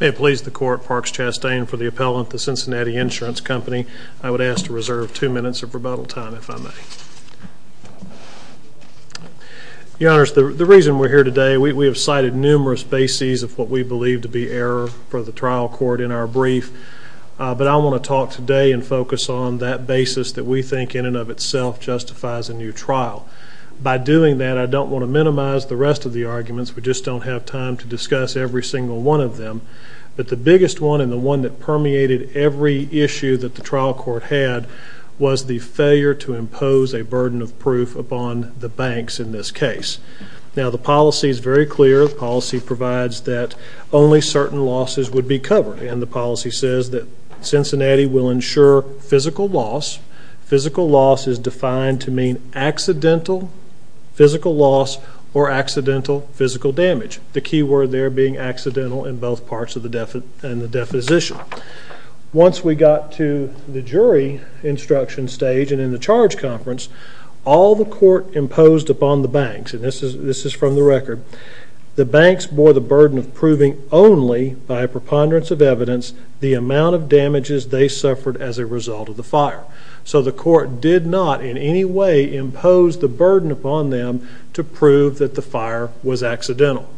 May it please the court, Parks Chastain for the appellant, the Cincinnati Insurance Company. I would ask to reserve two minutes of rebuttal time if I may. Your honors, the reason we're here today, we have cited numerous bases of what we believe to be error for the trial court in our brief, but I want to talk today and focus on that basis that we think in and of itself justifies a new trial. By doing that, I don't want to minimize the rest of the arguments, we just don't have time to discuss every single one of them, but the biggest one and the one that permeated every issue that the trial court had was the failure to impose a burden of proof upon the banks in this case. Now the policy is very clear, the policy provides that only certain losses would be covered and the policy says that Cincinnati will insure physical loss, physical loss is defined to mean accidental physical loss or accidental physical damage, the key word there being accidental in both parts of the definition. Once we got to the jury instruction stage and in the charge conference, all the court imposed upon the banks, and this is from the record, the banks bore the burden of proving only by preponderance of evidence the amount of damages they suffered as a result of the fire. So the court did not in any way impose the burden upon them to prove that the fire was accidental.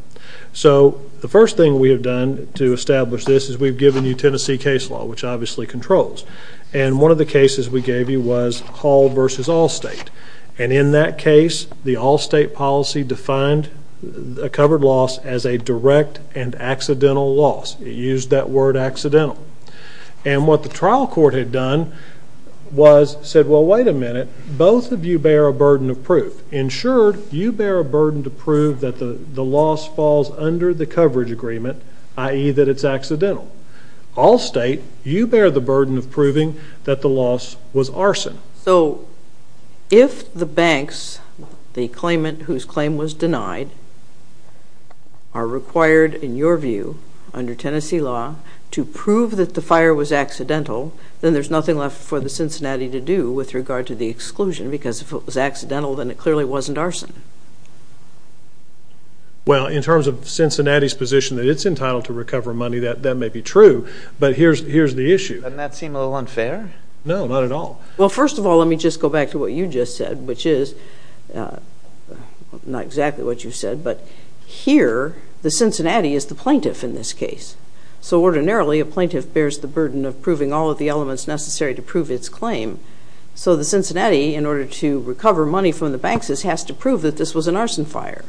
So the first thing we have done to establish this is we've given you Tennessee case law, which obviously controls, and one of the cases we gave you was Hall v. Allstate, and in that case, the Allstate policy defined a covered loss as a direct and accidental loss, it used that word accidental. And what the trial court had done was said, well, wait a minute, both of you bear a burden of proof, insured, you bear a burden to prove that the loss falls under the coverage agreement, i.e. that it's accidental, Allstate, you bear the burden of proving that the loss was arson. So if the banks, the claimant whose claim was denied, are required, in your view, under Tennessee law, to prove that the fire was accidental, then there's nothing left for the Cincinnati to do with regard to the exclusion, because if it was accidental, then it clearly wasn't arson. Well, in terms of Cincinnati's position that it's entitled to recover money, that may be true, but here's the issue. Doesn't that seem a little unfair? No, not at all. Well, first of all, let me just go back to what you just said, which is, not exactly what you said, but here, the Cincinnati is the plaintiff in this case. So ordinarily, a plaintiff bears the burden of proving all of the elements necessary to prove its claim. So the Cincinnati, in order to recover money from the banks, has to prove that this was an arson fire.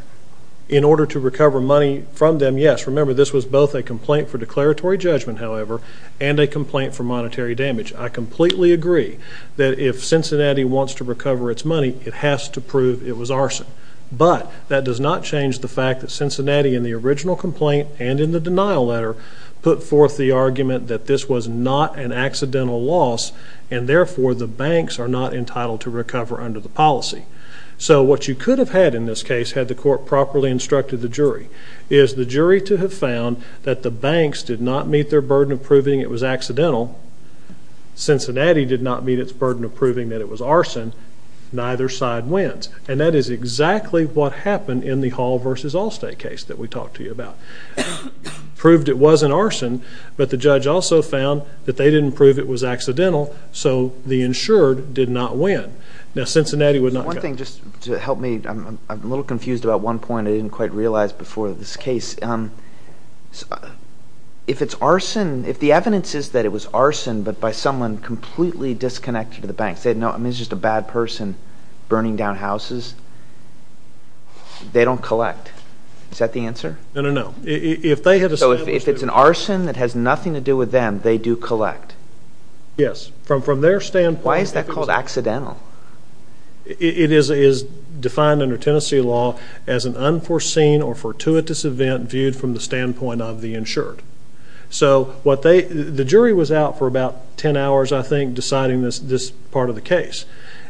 In order to recover money from them, yes, remember, this was both a complaint for declaratory judgment, however, and a complaint for monetary damage. I completely agree that if Cincinnati wants to recover its money, it has to prove it was arson, but that does not change the fact that Cincinnati, in the original complaint and in the denial letter, put forth the argument that this was not an accidental loss, and therefore, the banks are not entitled to recover under the policy. So what you could have had in this case, had the court properly instructed the jury, is the jury to have found that the banks did not meet their burden of proving it was accidental, Cincinnati did not meet its burden of proving that it was arson, neither side wins. And that is exactly what happened in the Hall v. Allstate case that we talked to you about. Proved it wasn't arson, but the judge also found that they didn't prove it was accidental, so the insured did not win. Now, Cincinnati would not go. One thing, just to help me, I'm a little confused about one point I didn't quite realize before this case. If it's arson, if the evidence is that it was arson, but by someone completely disconnected to the banks, it's just a bad person burning down houses, they don't collect, is that the answer? No, no, no. So if it's an arson that has nothing to do with them, they do collect? Yes. From their standpoint... Why is that called accidental? It is defined under Tennessee law as an unforeseen or fortuitous event viewed from the standpoint of the insured. So the jury was out for about 10 hours, I think, deciding this part of the case.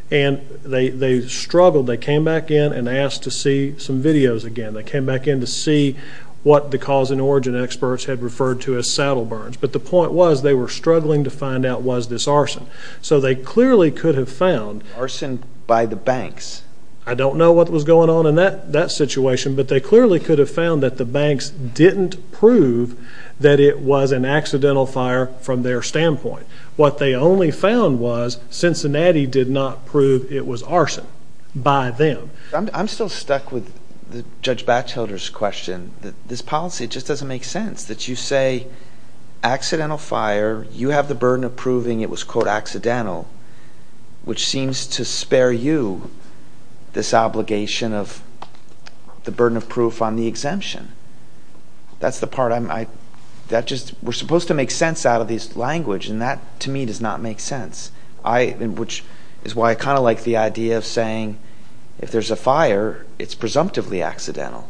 And they struggled. They came back in and asked to see some videos again. They came back in to see what the cause and origin experts had referred to as saddle burns. But the point was, they were struggling to find out was this arson. So they clearly could have found... Arson by the banks. I don't know what was going on in that situation, but they clearly could have found that the banks didn't prove that it was an accidental fire from their standpoint. What they only found was Cincinnati did not prove it was arson by them. I'm still stuck with Judge Batchelder's question. This policy just doesn't make sense. You say, accidental fire, you have the burden of proving it was, quote, accidental, which seems to spare you this obligation of the burden of proof on the exemption. That's the part I'm... That just... We're supposed to make sense out of this language, and that, to me, does not make sense. Which is why I kind of like the idea of saying, if there's a fire, it's presumptively accidental.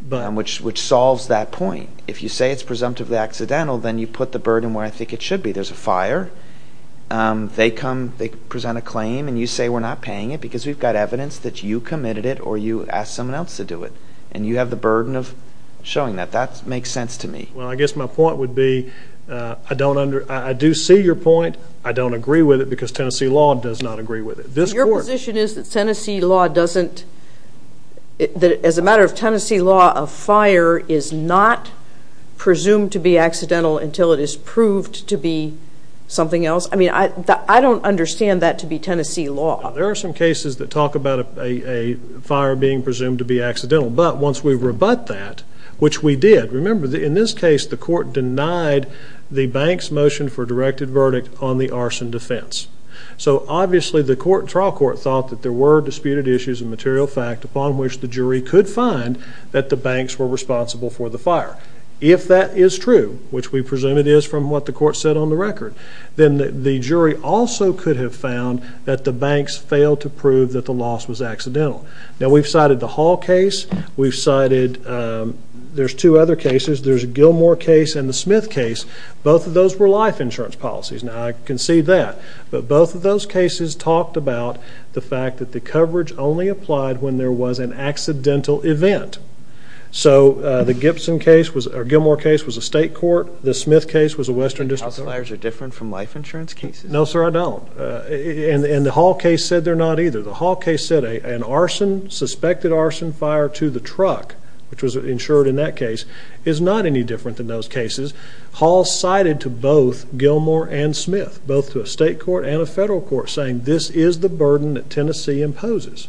But... Which solves that point. If you say it's presumptively accidental, then you put the burden where I think it should be. There's a fire. They come, they present a claim, and you say we're not paying it because we've got evidence that you committed it or you asked someone else to do it. And you have the burden of showing that. That makes sense to me. Well, I guess my point would be, I do see your point. I don't agree with it because Tennessee law does not agree with it. This court... As a matter of Tennessee law, a fire is not presumed to be accidental until it is proved to be something else? I mean, I don't understand that to be Tennessee law. There are some cases that talk about a fire being presumed to be accidental. But once we rebut that, which we did, remember, in this case, the court denied the bank's motion for directed verdict on the arson defense. So obviously, the trial court thought that there were disputed issues of material fact upon which the jury could find that the banks were responsible for the fire. If that is true, which we presume it is from what the court said on the record, then the jury also could have found that the banks failed to prove that the loss was accidental. Now we've cited the Hall case. We've cited... There's two other cases. There's a Gilmore case and the Smith case. Both of those were life insurance policies. Now I concede that. But both of those cases talked about the fact that the coverage only applied when there was an accidental event. So the Gilmore case was a state court. The Smith case was a western district. House fires are different from life insurance cases? No, sir, I don't. And the Hall case said they're not either. The Hall case said an arson, suspected arson fire to the truck, which was insured in that case, is not any different than those cases. Hall cited to both Gilmore and Smith, both to a state court and a federal court, saying this is the burden that Tennessee imposes.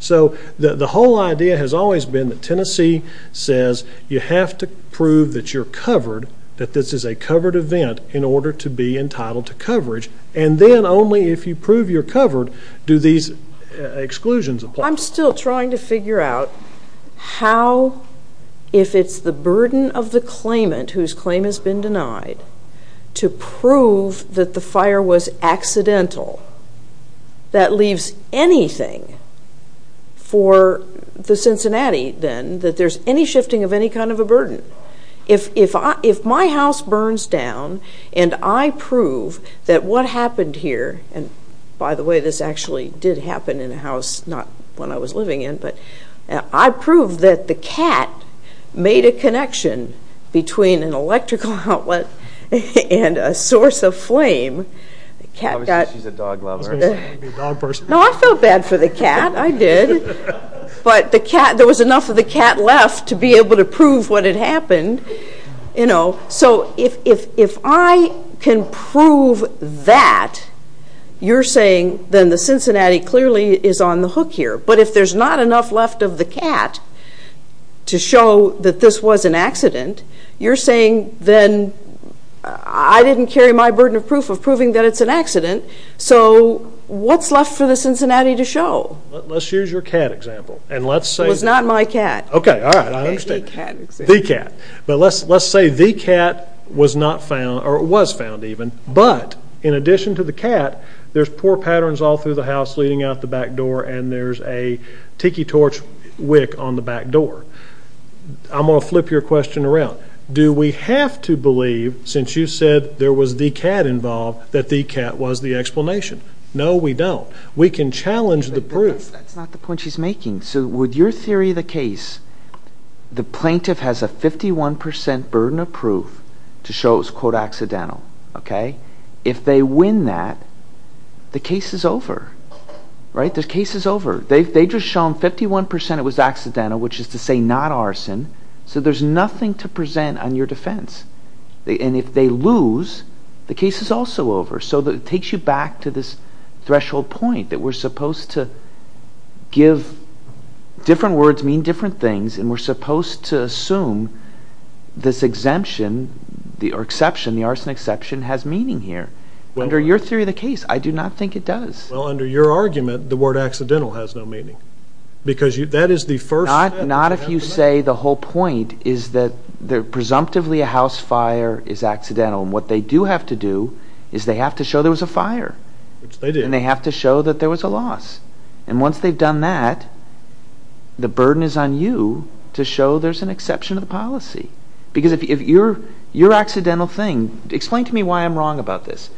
So the whole idea has always been that Tennessee says you have to prove that you're covered, that this is a covered event, in order to be entitled to coverage. And then only if you prove you're covered do these exclusions apply. I'm still trying to figure out how, if it's the burden of the claimant, whose claim has been denied, to prove that the fire was accidental, that leaves anything for the Cincinnati, then, that there's any shifting of any kind of a burden. If my house burns down and I prove that what happened here, and by the way, this actually did happen in a house not one I was living in, but I proved that the cat made a connection between an electrical outlet and a source of flame, the cat got... Obviously she's a dog lover. She's going to be a dog person. No, I felt bad for the cat, I did, but the cat, there was enough of the cat left to be able to prove what had happened, you know. So if I can prove that, you're saying then the Cincinnati clearly is on the hook here. But if there's not enough left of the cat to show that this was an accident, you're saying then I didn't carry my burden of proof of proving that it's an accident, so what's left for the Cincinnati to show? Let's use your cat example, and let's say... It was not my cat. Okay, all right, I understand. The cat example. The cat. But let's say the cat was not found, or was found even, but in addition to the cat, there's four patterns all through the house, leading out the back door, and there's a tiki torch wick on the back door. I'm going to flip your question around. Do we have to believe, since you said there was the cat involved, that the cat was the explanation? No, we don't. We can challenge the proof. But that's not the point she's making. So with your theory of the case, the plaintiff has a 51% burden of proof to show it was quote accidental, okay? If they win that, the case is over, right? The case is over. They've just shown 51% it was accidental, which is to say not arson. So there's nothing to present on your defense. And if they lose, the case is also over. So it takes you back to this threshold point that we're supposed to give... Different words mean different things, and we're supposed to assume this exemption, or the arson exception, has meaning here. Under your theory of the case, I do not think it does. Well, under your argument, the word accidental has no meaning. Because that is the first step. Not if you say the whole point is that presumptively a house fire is accidental. And what they do have to do is they have to show there was a fire. Which they did. And they have to show that there was a loss. And once they've done that, the burden is on you to show there's an exception of policy. Because if your accidental thing... Explain to me why I'm wrong about this.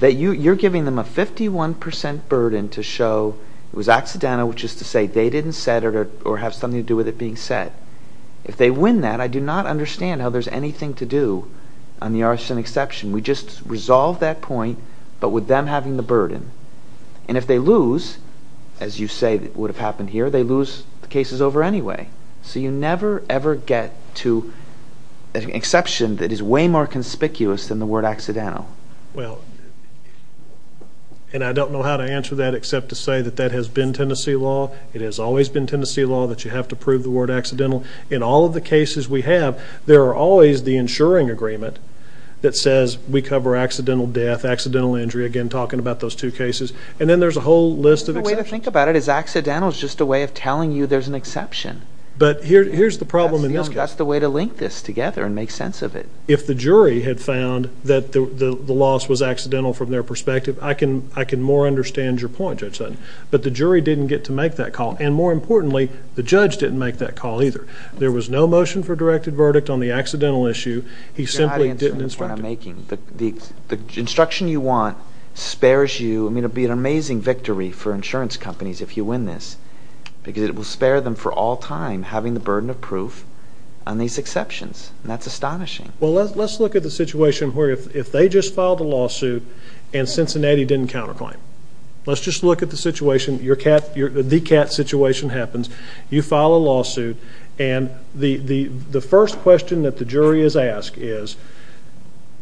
You're giving them a 51% burden to show it was accidental, which is to say they didn't set it or have something to do with it being set. If they win that, I do not understand how there's anything to do on the arson exception. We just resolve that point, but with them having the burden. And if they lose, as you say would have happened here, they lose the case is over anyway. So you never ever get to an exception that is way more conspicuous than the word accidental. Well, and I don't know how to answer that except to say that that has been Tennessee law. It has always been Tennessee law that you have to prove the word accidental. In all of the cases we have, there are always the insuring agreement that says we cover accidental death, accidental injury, again talking about those two cases. And then there's a whole list of exceptions. The way to think about it is accidental is just a way of telling you there's an exception. But here's the problem in this case. That's the way to link this together and make sense of it. If the jury had found that the loss was accidental from their perspective, I can more understand your point, Judge Sutton. But the jury didn't get to make that call. And more importantly, the judge didn't make that call either. There was no motion for a directed verdict on the accidental issue. He simply didn't instruct him. You're not answering the point I'm making. The instruction you want spares you. I mean, it would be an amazing victory for insurance companies if you win this. Because it will spare them for all time having the burden of proof on these exceptions, and that's astonishing. Well, let's look at the situation where if they just filed a lawsuit and Cincinnati didn't counterclaim. Let's just look at the situation. The cat situation happens. You file a lawsuit, and the first question that the jury is asked is,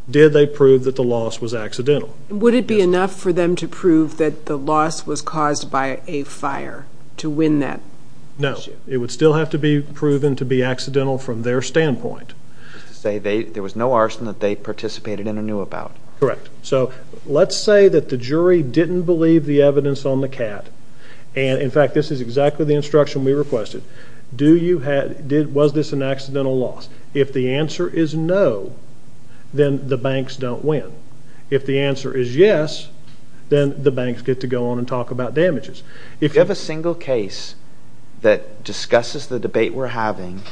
did they prove that the loss was accidental? Would it be enough for them to prove that the loss was caused by a fire to win that issue? No. It would still have to be proven to be accidental from their standpoint. There was no arson that they participated in or knew about. Correct. So let's say that the jury didn't believe the evidence on the cat, and in fact, this is exactly the instruction we requested. Was this an accidental loss? If the answer is no, then the banks don't win. If the answer is yes, then the banks get to go on and talk about damages. If you have a single case that discusses the debate we're having,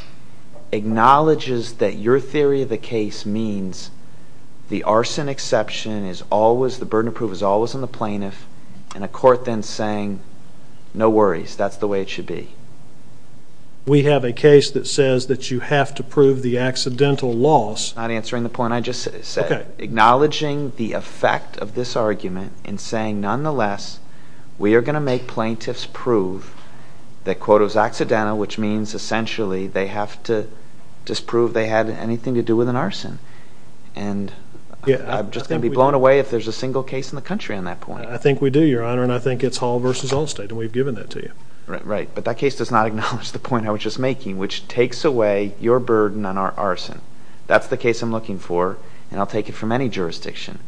acknowledges that your theory of the case means the arson exception is always, the burden of proof is always on the plaintiff, and a court then saying, no worries, that's the way it should be. We have a case that says that you have to prove the accidental loss. Not answering the point I just said. Acknowledging the effect of this argument and saying, nonetheless, we are going to make plaintiffs prove that, quote, it was accidental, which means, essentially, they have to disprove they had anything to do with an arson. And I'm just going to be blown away if there's a single case in the country on that point. I think we do, Your Honor, and I think it's Hall versus Allstate, and we've given that to you. Right, but that case does not acknowledge the point I was just making, which takes away your burden on our arson. That's the case I'm looking for, and I'll take it from any jurisdiction.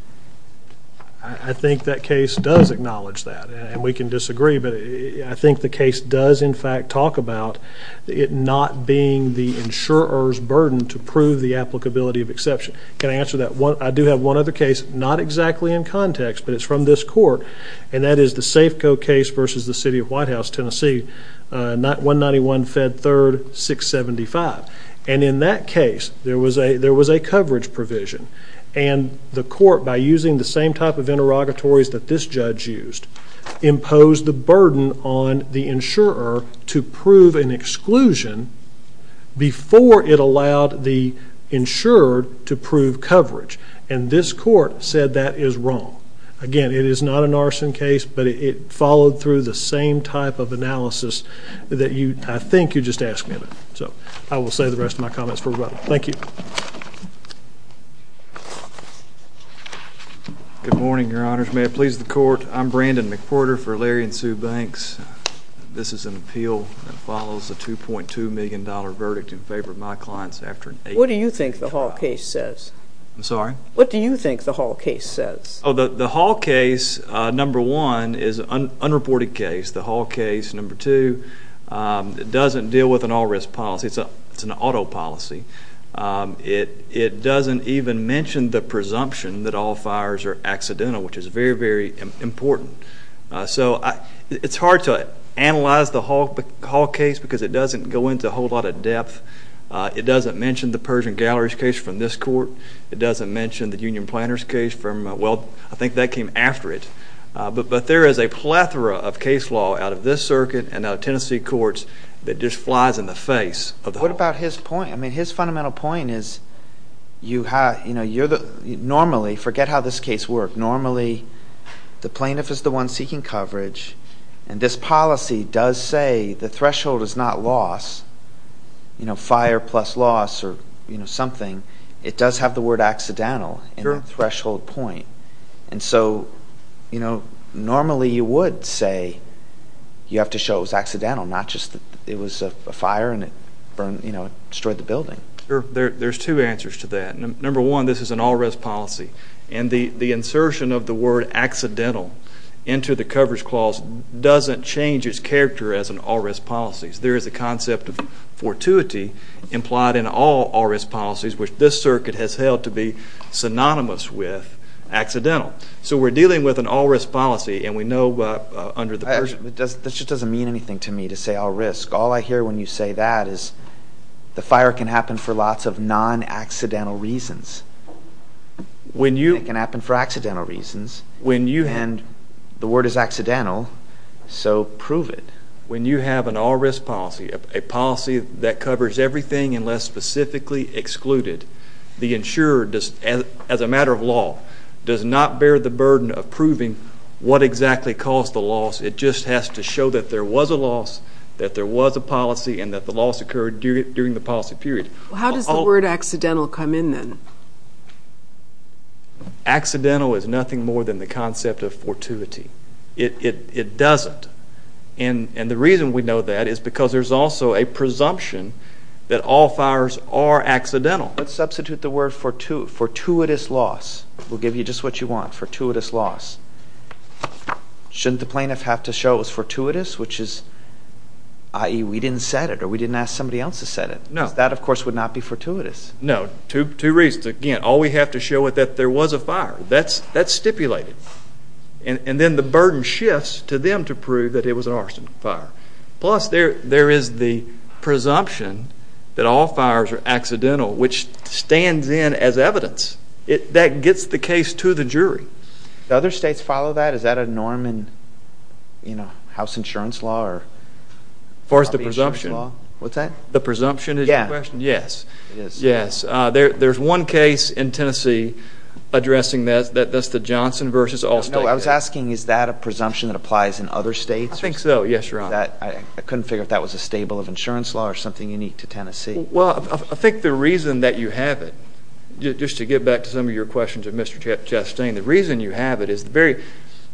I think that case does acknowledge that, and we can disagree, but I think the case does, in fact, talk about it not being the insurer's burden to prove the applicability of exception. Can I answer that? I do have one other case, not exactly in context, but it's from this court, and that is the Safeco case versus the city of Whitehouse, Tennessee, 191 Fed 3rd 675. And in that case, there was a coverage provision, and the court, by using the same type of interrogatories that this judge used, imposed the burden on the insurer to prove an exclusion before it allowed the insurer to prove coverage. And this court said that is wrong. Again, it is not an arson case, but it followed through the same type of analysis that I think you just asked me about. So I will save the rest of my comments for later. Thank you. Good morning, Your Honors. May it please the court, I'm Brandon McPorter for Larry and Sue Banks. This is an appeal that follows a $2.2 million verdict in favor of my clients after an eight year trial. What do you think the Hall case says? I'm sorry? What do you think the Hall case says? The Hall case, number one, is an unreported case. The Hall case, number two, doesn't deal with an all-risk policy. It's an auto policy. It doesn't even mention the presumption that all fires are accidental, which is very, very important. So it's hard to analyze the Hall case because it doesn't go into a whole lot of depth. It doesn't mention the Persian Galleries case from this court. It doesn't mention the Union Planners case from, well, I think that came after it. But there is a plethora of case law out of this circuit and out of Tennessee courts that just flies in the face of the Hall case. What about his point? I mean, his fundamental point is, you know, normally, forget how this case worked, normally the plaintiff is the one seeking coverage and this policy does say the threshold is not loss, you know, fire plus loss or, you know, something. It does have the word accidental in the threshold point. And so, you know, normally you would say you have to show it was accidental, not just it was a fire and it burned, you know, it destroyed the building. There's two answers to that. Number one, this is an all-risk policy. And the insertion of the word accidental into the coverage clause doesn't change its character as an all-risk policy. There is a concept of fortuity implied in all all-risk policies, which this circuit has held to be synonymous with accidental. So we're dealing with an all-risk policy, and we know under the version... That just doesn't mean anything to me to say all-risk. All I hear when you say that is the fire can happen for lots of non-accidental reasons. When you... It can happen for accidental reasons. When you... And the word is accidental, so prove it. When you have an all-risk policy, a policy that covers everything unless specifically excluded, the insurer, as a matter of law, does not bear the burden of proving what exactly caused the loss. It just has to show that there was a loss, that there was a policy, and that the loss occurred during the policy period. How does the word accidental come in then? Accidental is nothing more than the concept of fortuity. It doesn't. And the reason we know that is because there's also a presumption that all fires are accidental. Let's substitute the word fortuitous loss. We'll give you just what you want, fortuitous loss. Shouldn't the plaintiff have to show it was fortuitous, which is, i.e., we didn't set it or we didn't ask somebody else to set it? No. Because that, of course, would not be fortuitous. No. Two reasons. Again, all we have to show is that there was a fire. That's stipulated. And then the burden shifts to them to prove that it was an arson fire. Plus, there is the presumption that all fires are accidental, which stands in as evidence. That gets the case to the jury. Do other states follow that? Is that a norm in house insurance law or property insurance law? As far as the presumption? What's that? The presumption is your question? Yes. It is. Yes. There's one case in Tennessee addressing that. That's the Johnson v. Allstate. No. I was asking, is that a presumption that applies in other states? I think so. Yes, Your Honor. I couldn't figure out if that was a stable of insurance law or something unique to Tennessee. Well, I think the reason that you have it, just to get back to some of your questions of Mr. Chastain, the reason you have it is the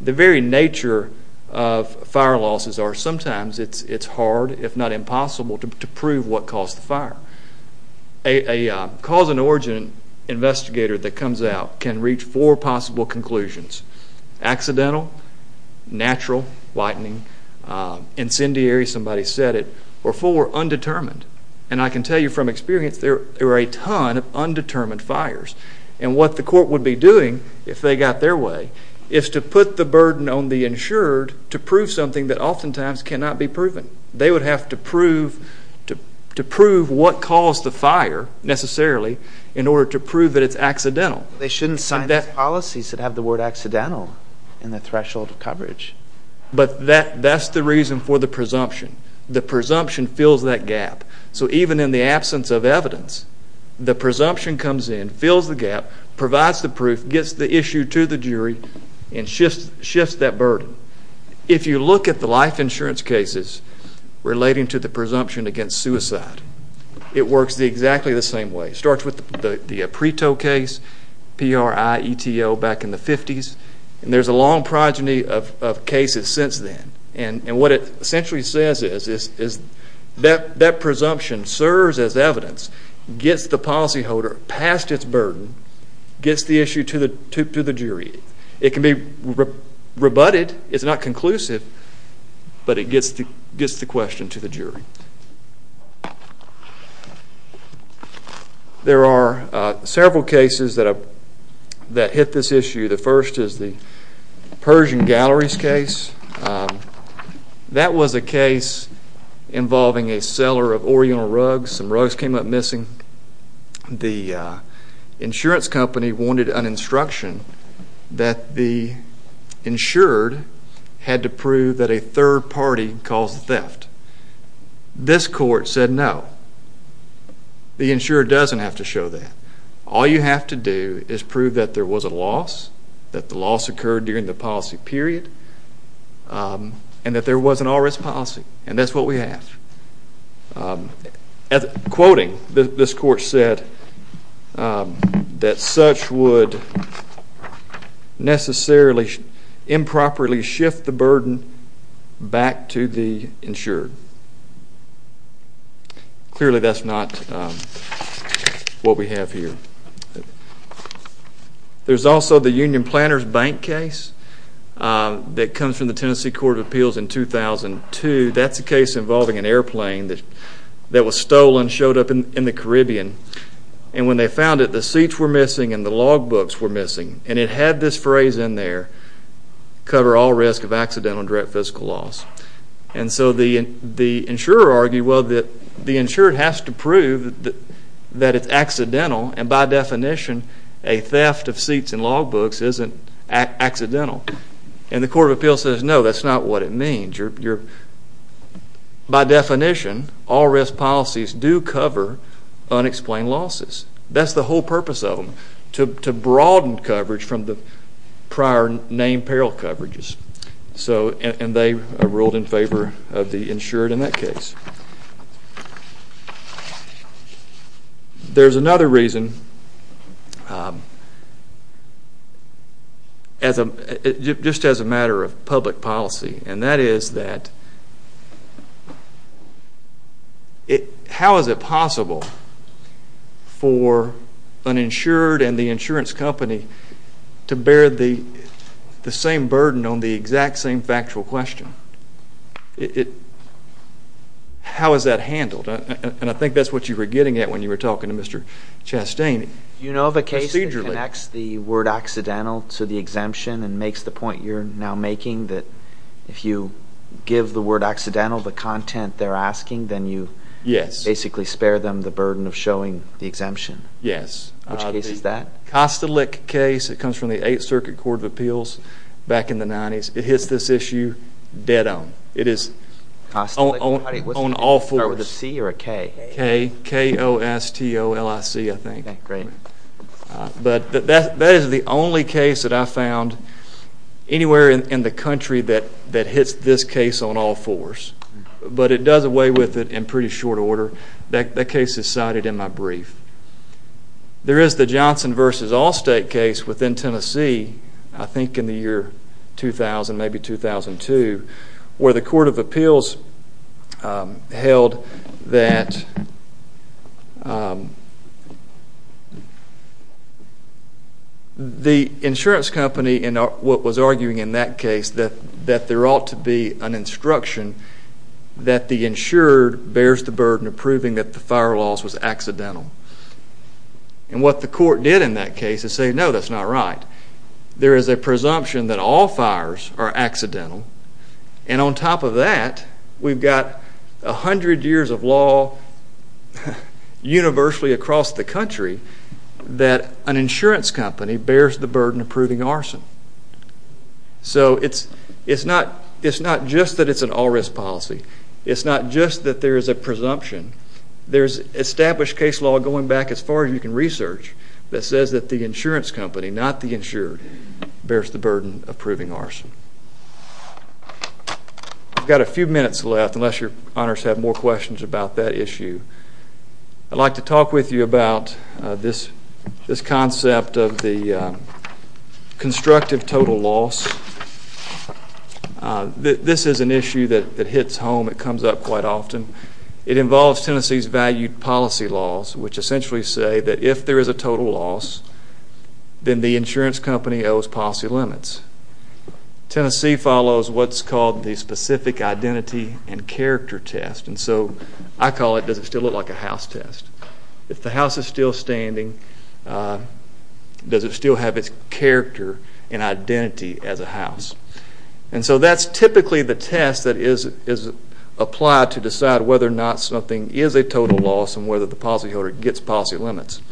very nature of fire losses are sometimes it's hard, if not impossible, to prove what caused the fire. A cause and origin investigator that comes out can reach four possible conclusions. Accidental, natural, lightening, incendiary, somebody said it, or four, undetermined. And I can tell you from experience, there are a ton of undetermined fires. And what the court would be doing, if they got their way, is to put the burden on the insured to prove something that oftentimes cannot be proven. They would have to prove what caused the fire, necessarily, in order to prove that it's accidental. They shouldn't sign those policies that have the word accidental in the threshold coverage. But that's the reason for the presumption. The presumption fills that gap. So even in the absence of evidence, the presumption comes in, fills the gap, provides the proof, gets the issue to the jury, and shifts that burden. If you look at the life insurance cases relating to the presumption against suicide, it works exactly the same way. It starts with the Preto case, P-R-I-E-T-O, back in the 50s. And there's a long progeny of cases since then. And what it essentially says is that that presumption serves as evidence, gets the policyholder past its burden, gets the issue to the jury. It can be rebutted. It's not conclusive. But it gets the question to the jury. There are several cases that hit this issue. The first is the Persian Galleries case. That was a case involving a seller of Oriental rugs. Some rugs came up missing. The insurance company wanted an instruction that the insured had to prove that a third party caused the theft. This court said no. The insurer doesn't have to show that. All you have to do is prove that there was a loss, that the loss occurred during the policy period, and that there was an all-risk policy. And that's what we have. Quoting, this court said that such would necessarily improperly shift the burden back to the insured. Clearly, that's not what we have here. There's also the Union Planners Bank case that comes from the Tennessee Court of Appeals in 2002. That's a case involving an airplane that was stolen, showed up in the Caribbean. And when they found it, the seats were missing and the logbooks were missing. And it had this phrase in there, cover all risk of accidental and direct fiscal loss. And so the insurer argued, well, the insured has to prove that it's accidental. And by definition, a theft of seats and logbooks isn't accidental. And the Court of Appeals says, no, that's not what it means. By definition, all-risk policies do cover unexplained losses. That's the whole purpose of them, to broaden coverage from the prior named peril coverages. And they ruled in favor of the insured in that case. There's another reason, just as a matter of public policy. And that is that how is it possible for an insured and the insurance company to bear the same burden on the exact same factual question? How is that handled? And I think that's what you were getting at when you were talking to Mr. Chastain procedurally. Do you know of a case that connects the word accidental to the exemption and makes the point you're now making that if you give the word accidental the content they're asking, then you basically spare them the burden of showing the exemption? Yes. Which case is that? The Kostelik case. It comes from the Eighth Circuit Court of Appeals back in the 90s. It hits this issue dead on. It is on all fours. Was it a C or a K? K. K-O-S-T-O-L-I-C, I think. Okay, great. But that is the only case that I found anywhere in the country that hits this case on all fours. But it does away with it in pretty short order. That case is cited in my brief. There is the Johnson v. Allstate case within Tennessee, I think in the year 2000, maybe 2002, where the Court of Appeals held that the insurance company in what was arguing in that case that there ought to be an instruction that the insured bears the burden of proving that the fire loss was accidental. And what the court did in that case is say, no, that's not right. There is a presumption that all fires are accidental. And on top of that, we've got 100 years of law universally across the country that an insurance company bears the burden of proving arson. So it's not just that it's an all-risk policy. It's not just that there is a presumption. There's established case law going back as far as you can research that says that the insurance company, not the insured, bears the burden of proving arson. I've got a few minutes left, unless your honors have more questions about that issue. I'd like to talk with you about this concept of the constructive total loss. This is an issue that hits home. It comes up quite often. It involves Tennessee's valued policy laws, which essentially say that if there is a total loss, then the insurance company owes policy limits. Tennessee follows what's called the specific identity and character test. And so I call it, does it still look like a house test? If the house is still standing, does it still have its character and identity as a house? And so that's typically the test that is applied to decide whether or not something is a total loss and whether the policyholder gets policy limits.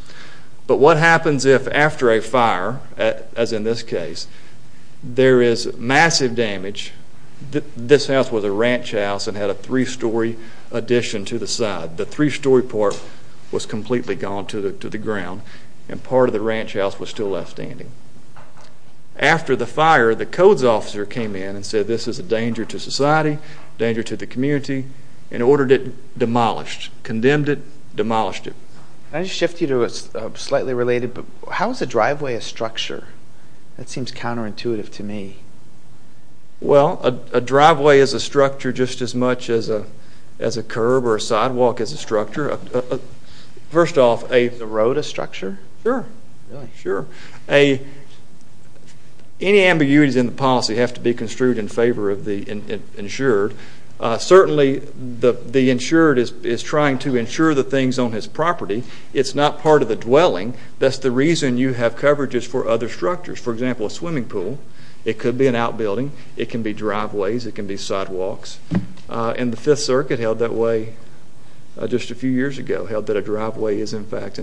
But what happens if after a fire, as in this case, there is massive damage? This house was a ranch house and had a three-story addition to the side. The three-story part was completely gone to the ground, and part of the ranch house was still left standing. After the fire, the codes officer came in and said, this is a danger to society, a danger to the community, and ordered it demolished, condemned it, demolished it. Can I just shift you to a slightly related? How is a driveway a structure? That seems counterintuitive to me. Well, a driveway is a structure just as much as a curb or a sidewalk is a structure. Is the road a structure? Sure, sure. Any ambiguities in the policy have to be construed in favor of the insured. Certainly the insured is trying to insure the things on his property. It's not part of the dwelling. That's the reason you have coverages for other structures. For example, a swimming pool, it could be an outbuilding. It can be driveways. It can be sidewalks. And the Fifth Circuit held that way just a few years ago, held that a driveway is, in fact,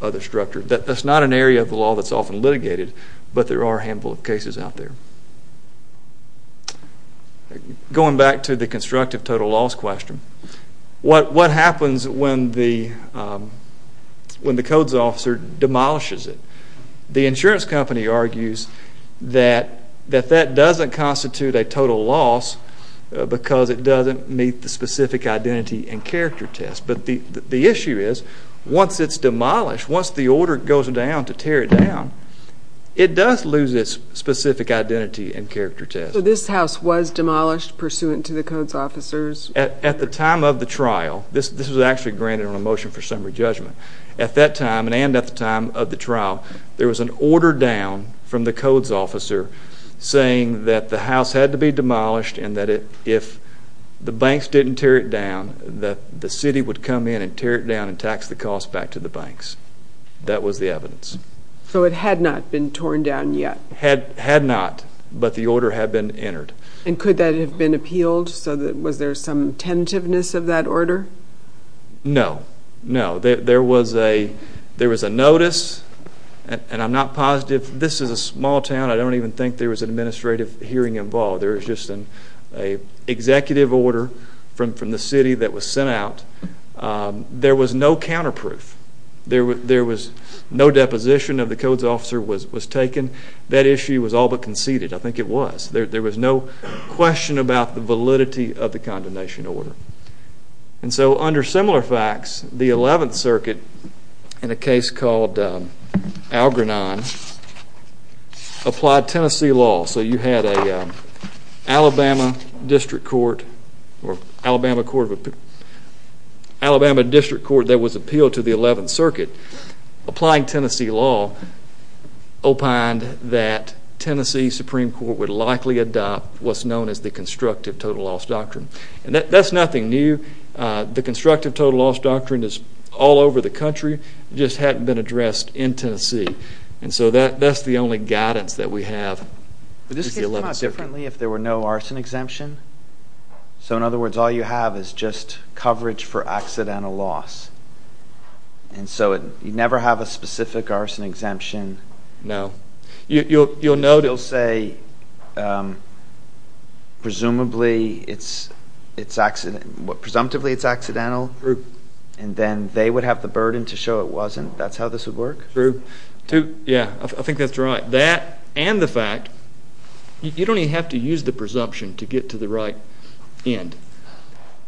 another structure. That's not an area of the law that's often litigated, but there are a handful of cases out there. Going back to the constructive total loss question, what happens when the codes officer demolishes it? The insurance company argues that that doesn't constitute a total loss because it doesn't meet the specific identity and character test. But the issue is once it's demolished, once the order goes down to tear it down, it does lose its specific identity and character test. So this house was demolished pursuant to the codes officers? At the time of the trial, this was actually granted on a motion for summary judgment, at that time and at the time of the trial, there was an order down from the codes officer saying that the house had to be demolished and that if the banks didn't tear it down, the city would come in and tear it down and tax the cost back to the banks. That was the evidence. So it had not been torn down yet? Had not, but the order had been entered. And could that have been appealed? Was there some tentativeness of that order? No, no. There was a notice, and I'm not positive. This is a small town. I don't even think there was an administrative hearing involved. There was just an executive order from the city that was sent out. There was no counterproof. There was no deposition of the codes officer was taken. That issue was all but conceded. I think it was. There was no question about the validity of the condemnation order. And so under similar facts, the 11th Circuit, in a case called Algrenon, applied Tennessee law. So you had an Alabama district court that was appealed to the 11th Circuit applying Tennessee law opined that Tennessee Supreme Court would likely adopt what's known as the constructive total loss doctrine. And that's nothing new. The constructive total loss doctrine is all over the country. It just hadn't been addressed in Tennessee. And so that's the only guidance that we have. Would this case come up differently if there were no arson exemption? So, in other words, all you have is just coverage for accidental loss. And so you'd never have a specific arson exemption. No. You'll note it. You'll say presumably it's accidental. True. And then they would have the burden to show it wasn't. That's how this would work? True. Yeah, I think that's right. That and the fact you don't even have to use the presumption to get to the right end.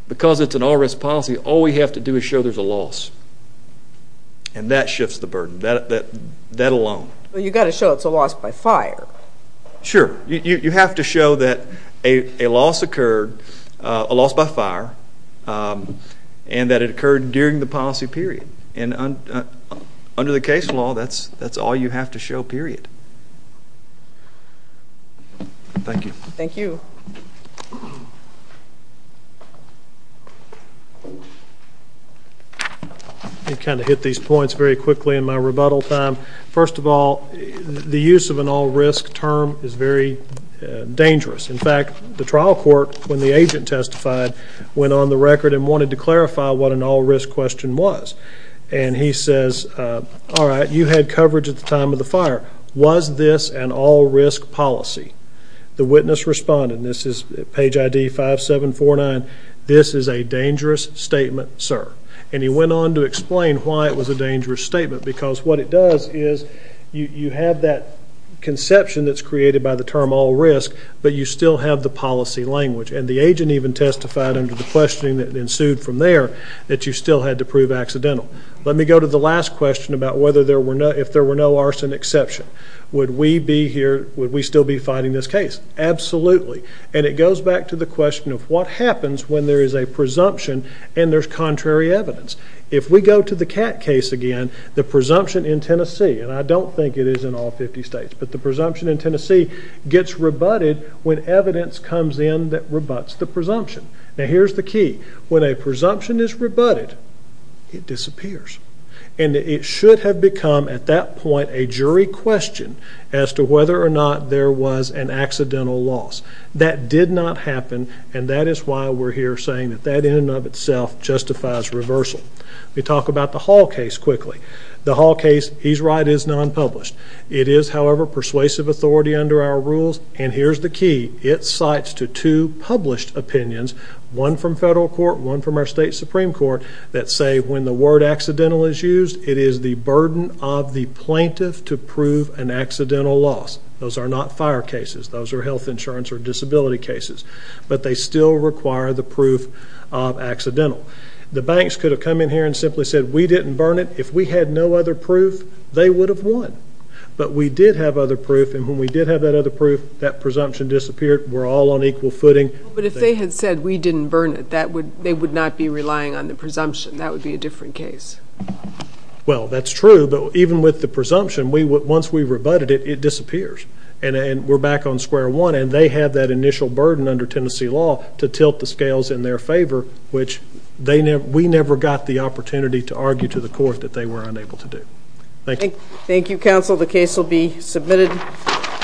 Because it's an all-risk policy, all we have to do is show there's a loss. And that shifts the burden, that alone. Well, you've got to show it's a loss by fire. Sure. You have to show that a loss occurred, a loss by fire, and that it occurred during the policy period. And under the case law, that's all you have to show, period. Thank you. Thank you. Let me kind of hit these points very quickly in my rebuttal time. First of all, the use of an all-risk term is very dangerous. In fact, the trial court, when the agent testified, went on the record and wanted to clarify what an all-risk question was. And he says, all right, you had coverage at the time of the fire. Was this an all-risk policy? The witness responded, and this is page ID 5749, this is a dangerous statement, sir. And he went on to explain why it was a dangerous statement. Because what it does is you have that conception that's created by the term all-risk, but you still have the policy language. And the agent even testified under the questioning that ensued from there that you still had to prove accidental. Let me go to the last question about if there were no arson exception. Would we still be fighting this case? Absolutely. And it goes back to the question of what happens when there is a presumption and there's contrary evidence. If we go to the Catt case again, the presumption in Tennessee, and I don't think it is in all 50 states, but the presumption in Tennessee gets rebutted when evidence comes in that rebuts the presumption. Now, here's the key. When a presumption is rebutted, it disappears. And it should have become at that point a jury question as to whether or not there was an accidental loss. That did not happen, and that is why we're here saying that that in and of itself justifies reversal. Let me talk about the Hall case quickly. The Hall case, he's right, is non-published. It is, however, persuasive authority under our rules, and here's the key, it cites to two published opinions, one from federal court, one from our state supreme court, that say when the word accidental is used, it is the burden of the plaintiff to prove an accidental loss. Those are not fire cases. Those are health insurance or disability cases. But they still require the proof of accidental. The banks could have come in here and simply said we didn't burn it. If we had no other proof, they would have won. But we did have other proof, and when we did have that other proof, that presumption disappeared. We're all on equal footing. But if they had said we didn't burn it, they would not be relying on the presumption. That would be a different case. Well, that's true, but even with the presumption, once we rebutted it, it disappears. And we're back on square one, and they have that initial burden under Tennessee law to tilt the scales in their favor, which we never got the opportunity to argue to the court that they were unable to do. Thank you. Thank you, counsel. The case will be submitted.